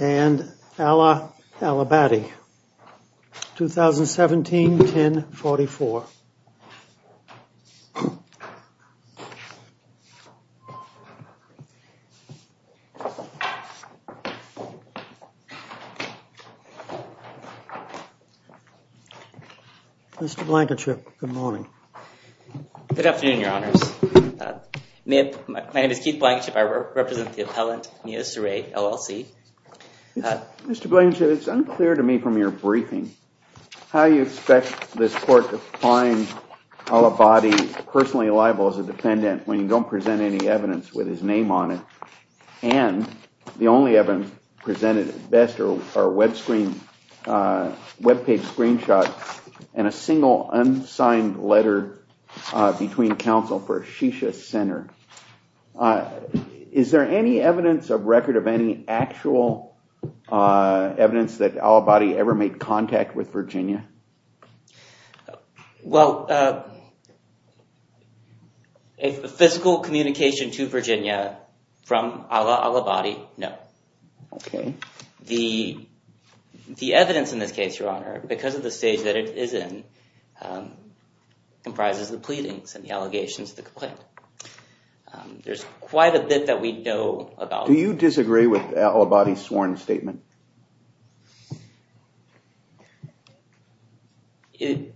and Allah Al Abadi 2017 1044. Mr. Blankenship, good morning. Good afternoon Mr. Blankenship, it's unclear to me from your briefing how you expect this court to find Al Abadi personally liable as a defendant when you don't present any evidence with his name on it and the only evidence presented at best are web screen, web page screenshots and a single unsigned letter between counsel for Shisha Center. Is there any evidence of record of any actual evidence that Al Abadi ever made contact with Virginia? Well, a physical communication to Virginia from Allah Al Abadi, no. Okay. The evidence in this case, your honor, because of the stage that it is in comprises the pleadings and the allegations, the complaint. There's quite a bit that we know about. Do you disagree with Al Abadi's sworn statement? He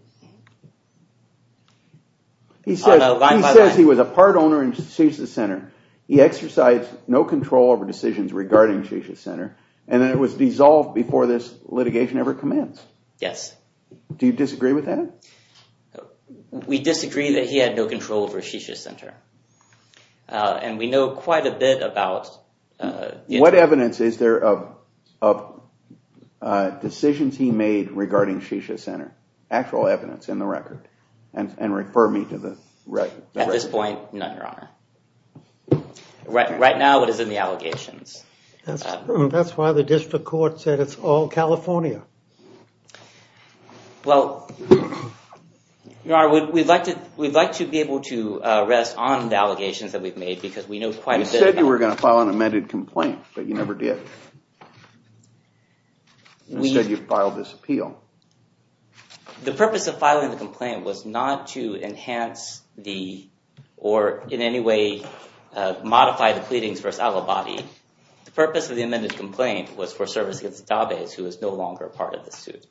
says he was a part owner in Shisha Center. He exercised no control over decisions regarding Shisha Center and then it was dissolved before this litigation ever commenced. Yes. Do you disagree that he had no control over Shisha Center? And we know quite a bit about. What evidence is there of decisions he made regarding Shisha Center? Actual evidence in the record and refer me to the record. At this point, no, your honor. Right now it is in the allegations. That's that's why the district court said it's all California. Well, your honor, we'd like to we'd like to be able to rest on the allegations that we've made because we know quite a bit. You said you were going to file an amended complaint, but you never did. You said you filed this appeal. The purpose of filing the complaint was not to The purpose of the amended complaint was for service against Dabes, who is no longer a part of the suit.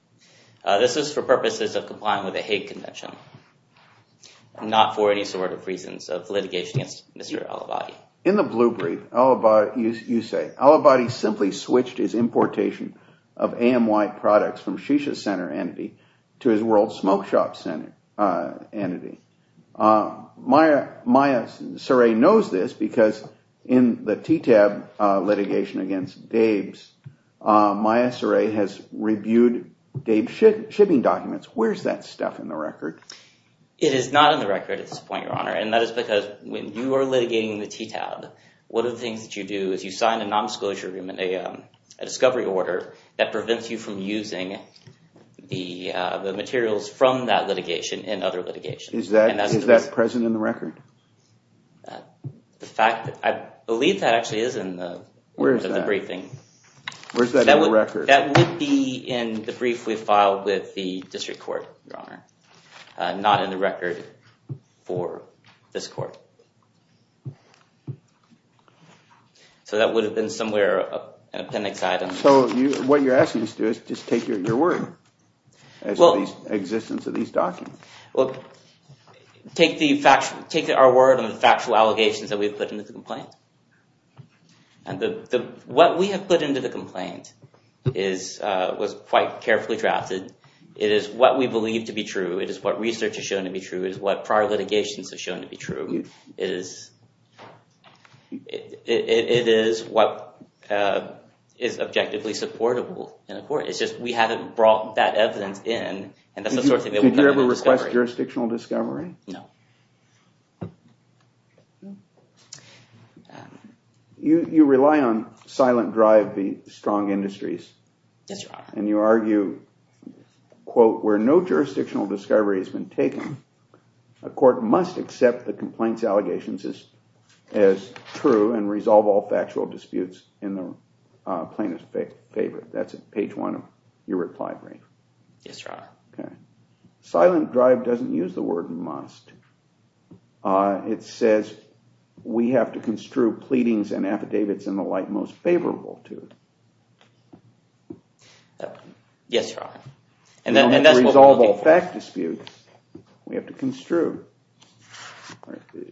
This is for purposes of complying with the Hague Convention, not for any sort of reasons of litigation against Mr. Al Abadi. In the blue brief, you say Al Abadi simply switched his importation of AMY products from Shisha Center entity to his against Dabes. MySRA has reviewed Dabes shipping documents. Where's that stuff in the record? It is not in the record at this point, your honor, and that is because when you are litigating the TTAB, one of the things that you do is you sign a non-disclosure agreement, a discovery order that prevents you from using the materials from that litigation in other litigations. Is that present in the record? The fact that I believe that actually is in the briefing. Where's that in the record? That would be in the brief we filed with the district court, your honor, not in the record for this court. So that would have been somewhere in appendix item. So what you're asking us to do is just your word as to the existence of these documents. Take our word on the factual allegations that we've put into the complaint. What we have put into the complaint was quite carefully drafted. It is what we believe to be true. It is what research has shown to be true. It is what prior litigations have shown to be true. It is what is objectively supportable in a court. It's just we haven't brought that evidence in, and that's the sort of thing that we're going to discover. Did you ever request jurisdictional discovery? No. You rely on silent drive, the strong industries. Yes, your honor. And you argue, quote, where no jurisdictional discovery has been taken, a court must accept the complaint's allegations as true and resolve all factual disputes in the plaintiff's favor. That's at page one of your reply brief. Yes, your honor. Silent drive doesn't use the word must. It says we have to construe pleadings and affidavits in the light most favorable to. Yes, your honor. And then resolve all fact disputes we have to construe.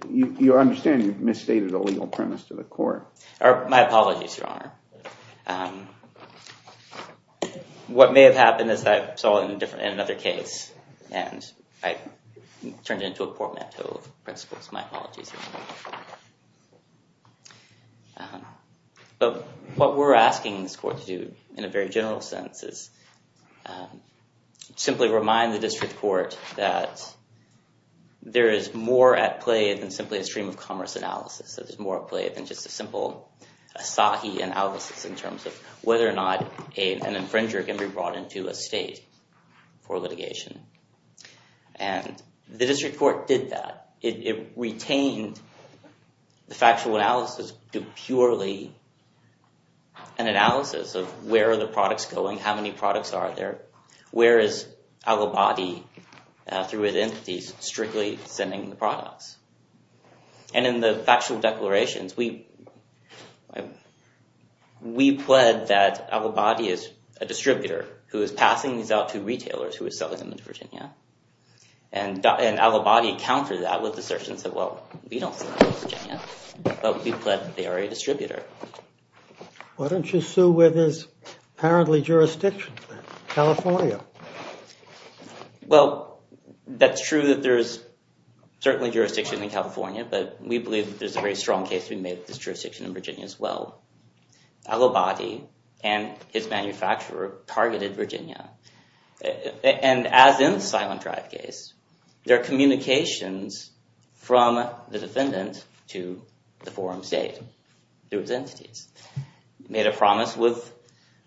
You understand you've misstated a legal premise to the court. My apologies, your honor. What may have happened is that I saw it in another case, and I turned into a poor mentor of principles. My apologies. But what we're asking this court to do in a very general sense is simply remind the district court that there is more at play than simply a stream of commerce analysis. That there's more at play than just a simple Asahi analysis in terms of whether or not an infringer can be brought into a state for litigation. And the district court did that. It retained the factual analysis to purely be an analysis of where are the products going? How many products are there? Where is Al-Abadi, through his entities, strictly sending the products? And in the factual declarations, we pled that Al-Abadi is a distributor who is passing these out to retailers who are selling them in Virginia. And Al-Abadi countered that with assertions that, we don't sell to Virginia, but we pled that they are a distributor. Why don't you sue with his apparently jurisdiction, California? Well, that's true that there's certainly jurisdiction in California, but we believe there's a very strong case to be made with this jurisdiction in Virginia as well. Al-Abadi and his manufacturer targeted Virginia. And as in the Silent Drive case, their communications from the defendant to the forum state, through his entities, made a promise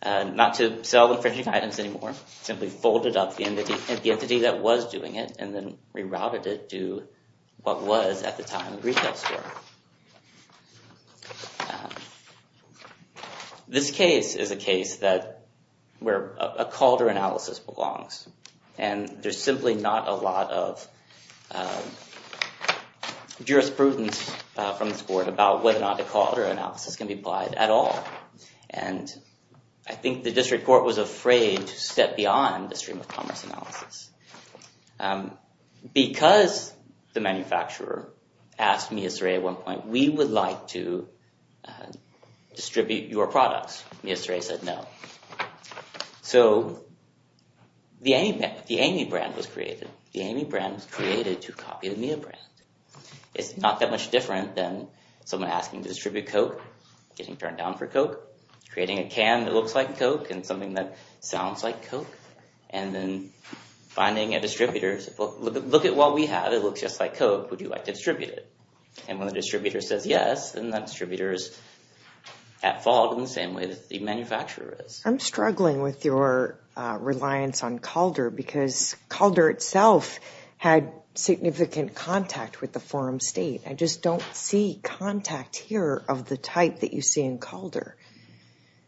not to sell infringing items anymore. Simply folded up the entity that was doing it and then rerouted it to what was at the time a retail store. Now, this case is a case where a Calder analysis belongs. And there's simply not a lot of jurisprudence from this court about whether or not a Calder analysis can be applied at all. And I think the district court was afraid to step beyond the stream of commerce analysis. Um, because the manufacturer asked me, at one point, we would like to distribute your products, he said no. So, the Amy brand was created. The Amy brand was created to copy the Mia brand. It's not that much different than someone asking to distribute coke, getting turned down for coke, creating a can that looks like coke and something that distributors. Look at what we have. It looks just like coke. Would you like to distribute it? And when the distributor says yes, then that distributor is at fault in the same way that the manufacturer is. I'm struggling with your reliance on Calder because Calder itself had significant contact with the forum state. I just don't see contact here of the type that you see Calder.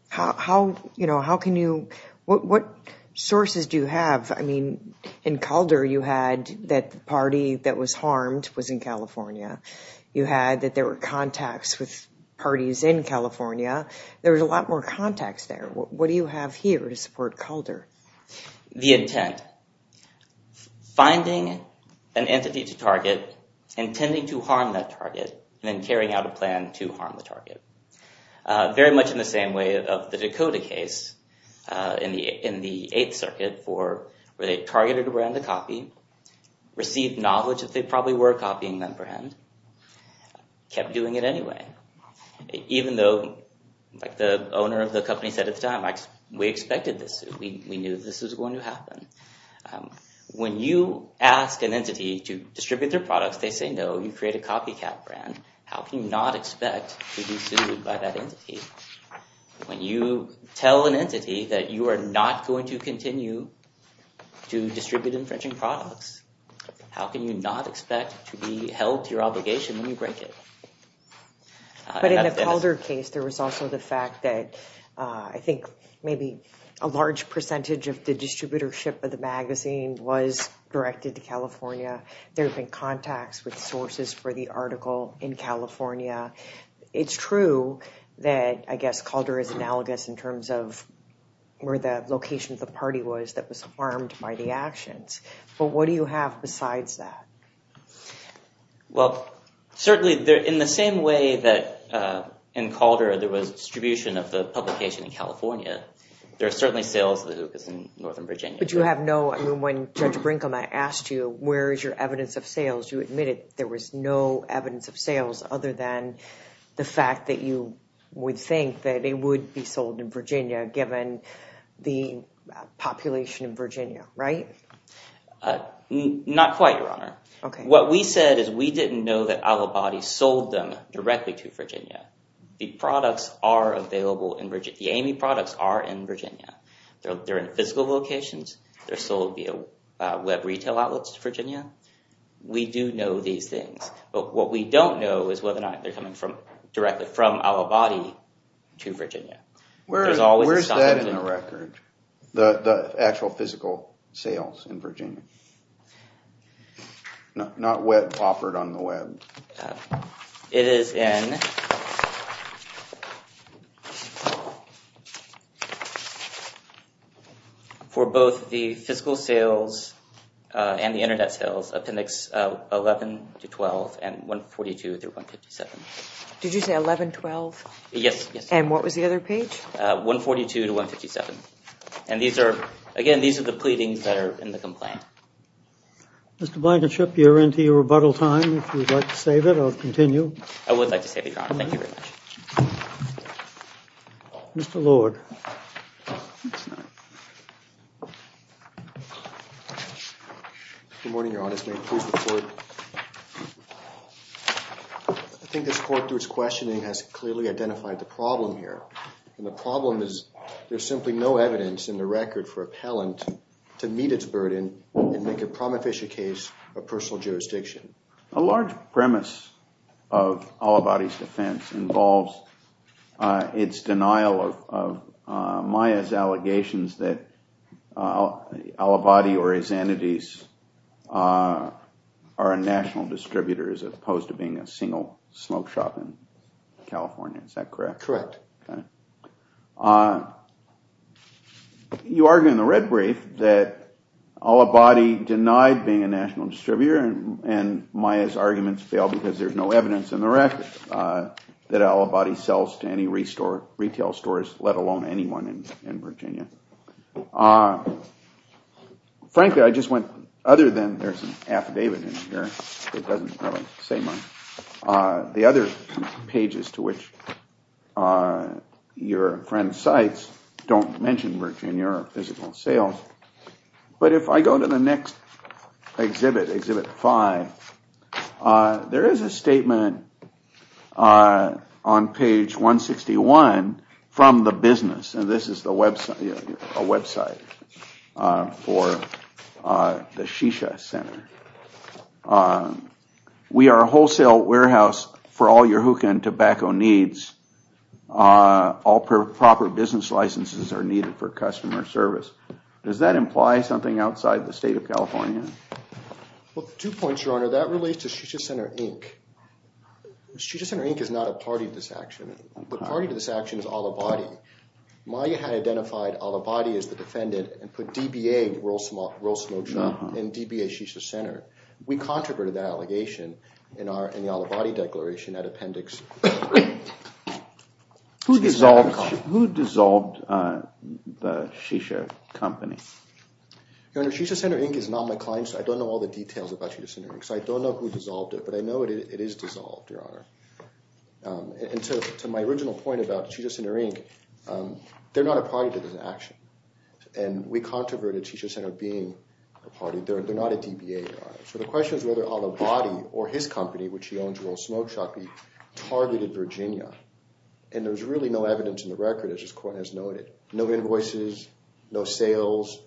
How, you know, how can you, what sources do you have? I mean, in Calder you had that party that was harmed was in California. You had that there were contacts with parties in California. There was a lot more contacts there. What do you have here to support Calder? The intent. Finding an entity to target, intending to harm that target, and then carrying out a plan to harm the target. Very much in the same way of the Dakota case in the eighth circuit for where they targeted a brand to copy, received knowledge that they probably were copying that brand, kept doing it anyway. Even though, like the owner of the company said at the time, we expected this. We knew this was going to happen. When you ask an entity to distribute their products, they say no, you create a copycat brand. How can you not expect to be sued by that entity? When you tell an entity that you are not going to continue to distribute infringing products, how can you not expect to be held to your obligation when you break it? But in the Calder case, there was also the fact that I think maybe a large percentage of the distributorship of the magazine was directed to California. There have been contacts with sources for the article in California. It's true that I guess Calder is analogous in terms of where the location of the party was that was harmed by the actions. But what do you have besides that? Well, certainly in the same way that in Calder there was distribution of the publication in California, there are certainly sales of the hookahs in Northern Virginia. But you have no, I mean, when Judge Brinkelman asked you, where is your evidence of sales, you admitted there was no evidence of sales other than the fact that you would think that it would be sold in Virginia given the population in Virginia, right? Not quite, Your Honor. What we said is we didn't know that Alibadi sold them directly to Virginia. The Amy products are in Virginia. They're in physical locations. They're sold via web retail outlets to Virginia. We do know these things. But what we don't know is whether or not they're coming directly from Alibadi to Virginia. Where's that in the record, the actual physical sales in Virginia? Not what's offered on the web. It is in for both the physical sales and the internet sales, appendix 11 to 12 and 142 through 157. Did you say 1112? Yes. And what was the other page? 142 to 157. And these are, again, these are the pleadings that are in the complaint. Mr. Blankenship, you're into your rebuttal time. If you'd like to save it, I'll continue. I would like to save it, Your Honor. Thank you very much. Mr. Lord. Good morning, Your Honor. I think this court, through its questioning, has clearly identified the problem here. And the problem is there's simply no evidence in the record for appellant to meet its burden and make a promethasia case a personal jurisdiction. A large premise of Alibadi's defense involves its denial of Maya's allegations that Alibadi or his entities are a national distributor as opposed to being a single smoke shop in California. Is that correct? Correct. You argue in the red brief that Alibadi denied being a national distributor and Maya's arguments fail because there's no evidence in the record that Alibadi sells to any retail stores, let alone anyone in Virginia. Frankly, I just went, other than there's an affidavit in here, it doesn't really say much. The other pages to which your friend cites don't mention Virginia physical sales. But if I go to the next exhibit, exhibit five, there is a statement on page 161 from the business. And this is a website for the Shisha Center. We are a wholesale warehouse for all your hookah and tobacco needs. All proper business licenses are needed for customer service. Does that imply something outside the state of California? Well, two points, your honor. That relates to Shisha Center Inc. Shisha Center Inc. is not a party to this action. The party to this action is Alibadi. Maya had identified Alibadi as the allegation in the Alibadi declaration, that appendix. Who dissolved the Shisha company? Your honor, Shisha Center Inc. is not my client, so I don't know all the details about Shisha Center Inc. So I don't know who dissolved it, but I know it is dissolved, your honor. And to my original point about Shisha Center Inc., they're not a party to this action. And we controverted Shisha Center being a party. They're not a DBA, your honor. So the question is whether Alibadi or his company, which he owns, Roll Smoke Shop, targeted Virginia. And there's really no evidence in the record, as this court has noted. No invoices, no sales,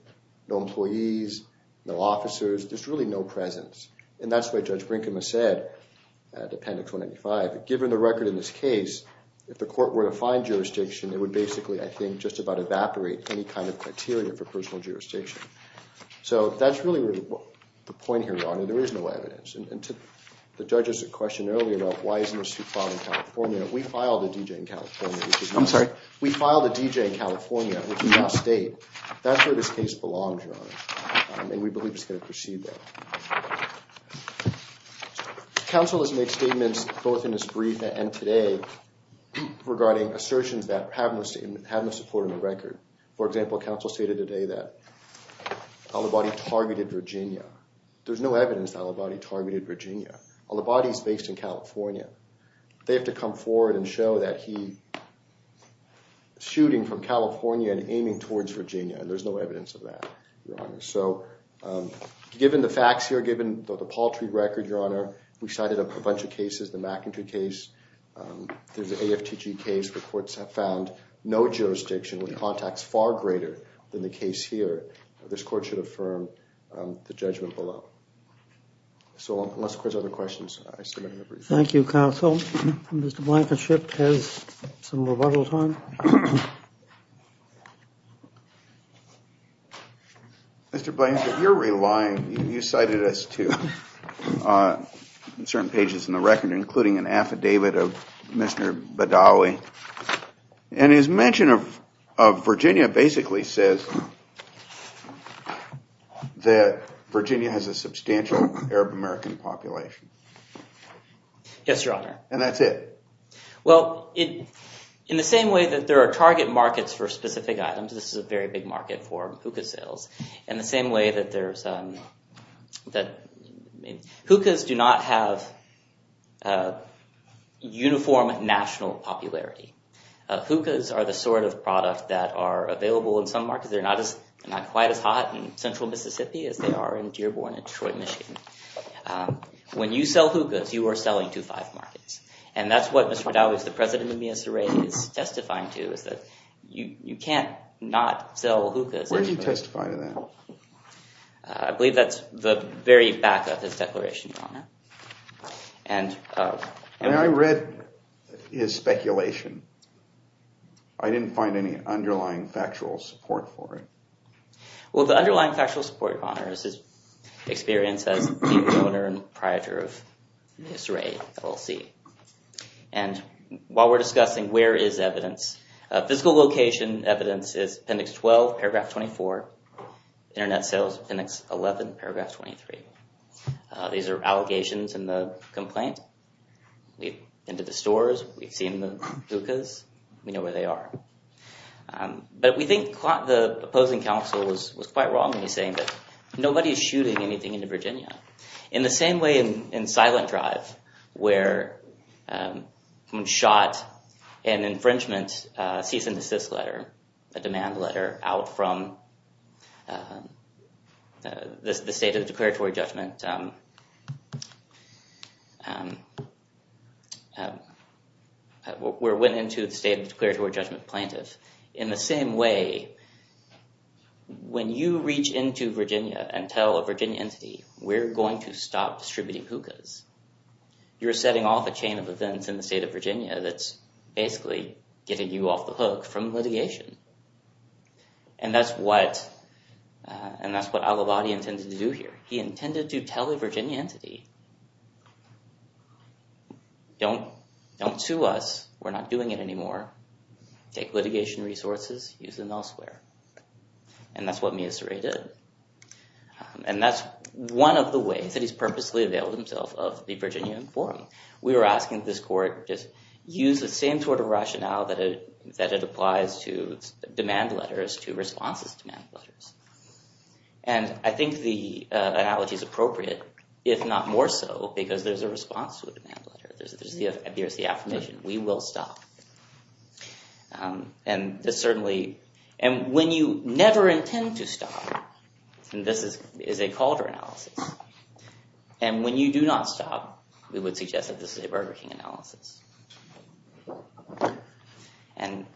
no employees, no officers. There's really no presence. And that's what Judge Brinkman said, appendix 195. But given the record in this case, if the court were to find jurisdiction, it would basically, I think, just about evaporate any kind of criteria for personal jurisdiction. So that's really the point here, your honor. There is no evidence. And to the judges that questioned earlier about why isn't this suit filed in California, we filed a D.J. in California. I'm sorry. We filed a D.J. in California, which is not state. That's where this case belongs, your honor. And we believe it's going to proceed there. Counsel has made statements, both in this brief and today, regarding assertions that have no support in the record. For example, counsel stated today that Al-Abadi targeted Virginia. There's no evidence that Al-Abadi targeted Virginia. Al-Abadi is based in California. They have to come forward and show that he is shooting from California and aiming towards Virginia. And there's no evidence of that, your honor. So given the facts here, given the paltry record, your honor, we cited a bunch of cases, the McEntry case. There's the AFTG case. The courts have found no jurisdiction with contacts far greater than the case here. This court should affirm the judgment below. So unless there's other questions, I submit my brief. Thank you, counsel. Mr. Blankenship has some rebuttal time. Mr. Blankenship, you're relying, you cited us to certain pages in the record, including an mention of Virginia basically says that Virginia has a substantial Arab American population. Yes, your honor. And that's it. Well, in the same way that there are target markets for specific items, this is a very big market for hookah sales, and the same way that there's, that hookahs do not have uniform national popularity. Hookahs are the sort of product that are available in some markets. They're not as, not quite as hot in central Mississippi as they are in Dearborn and Detroit, Michigan. When you sell hookahs, you are selling to five markets. And that's what Mr. McDowell, who's the president of the MSRA, is testifying to, is that you can't not sell hookahs. Where do you testify to that? I believe that's the very back of his declaration, your honor. And I read his speculation. I didn't find any underlying factual support for it. Well, the underlying factual support, your honor, is his experience as the owner and proprietor of MSRA LLC. And while we're discussing where is evidence, physical location evidence is appendix 12, paragraph 24, internet sales appendix 11, paragraph 23. These are allegations in the complaint. We've been to the stores. We've seen the hookahs. We know where they are. But we think the opposing counsel was quite wrong when he's saying that nobody's shooting anything into Virginia. In the same way in Silent Drive, where someone shot an infringement cease and desist letter, a demand letter, out from the state of declaratory judgment, where it went into the state of declaratory judgment plaintiff. In the same way, when you reach into Virginia and tell a Virginia entity, we're going to stop distributing hookahs, you're setting off a chain of events in the state of Virginia that's basically getting you off the hook from litigation. And that's what Al-Abadi intended to do here. He intended to tell a Virginia entity, don't sue us. We're not doing it anymore. Take litigation resources, use them elsewhere. And that's what Mia Sarai did. And that's one of the ways that he's purposely availed himself of the Virginian forum. We were asking this court, just use the same sort of rationale that it applies to demand letters, to responses to demand letters. And I think the analogy is appropriate, if not more so, because there's a response to a demand letter. There's the affirmation, we will stop. And when you never intend to stop, and this is a Calder analysis, and when you do not stop, we would suggest that this is a Burger King analysis. And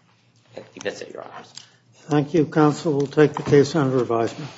that's it, your honors. Thank you, counsel. We'll take the case under advisement.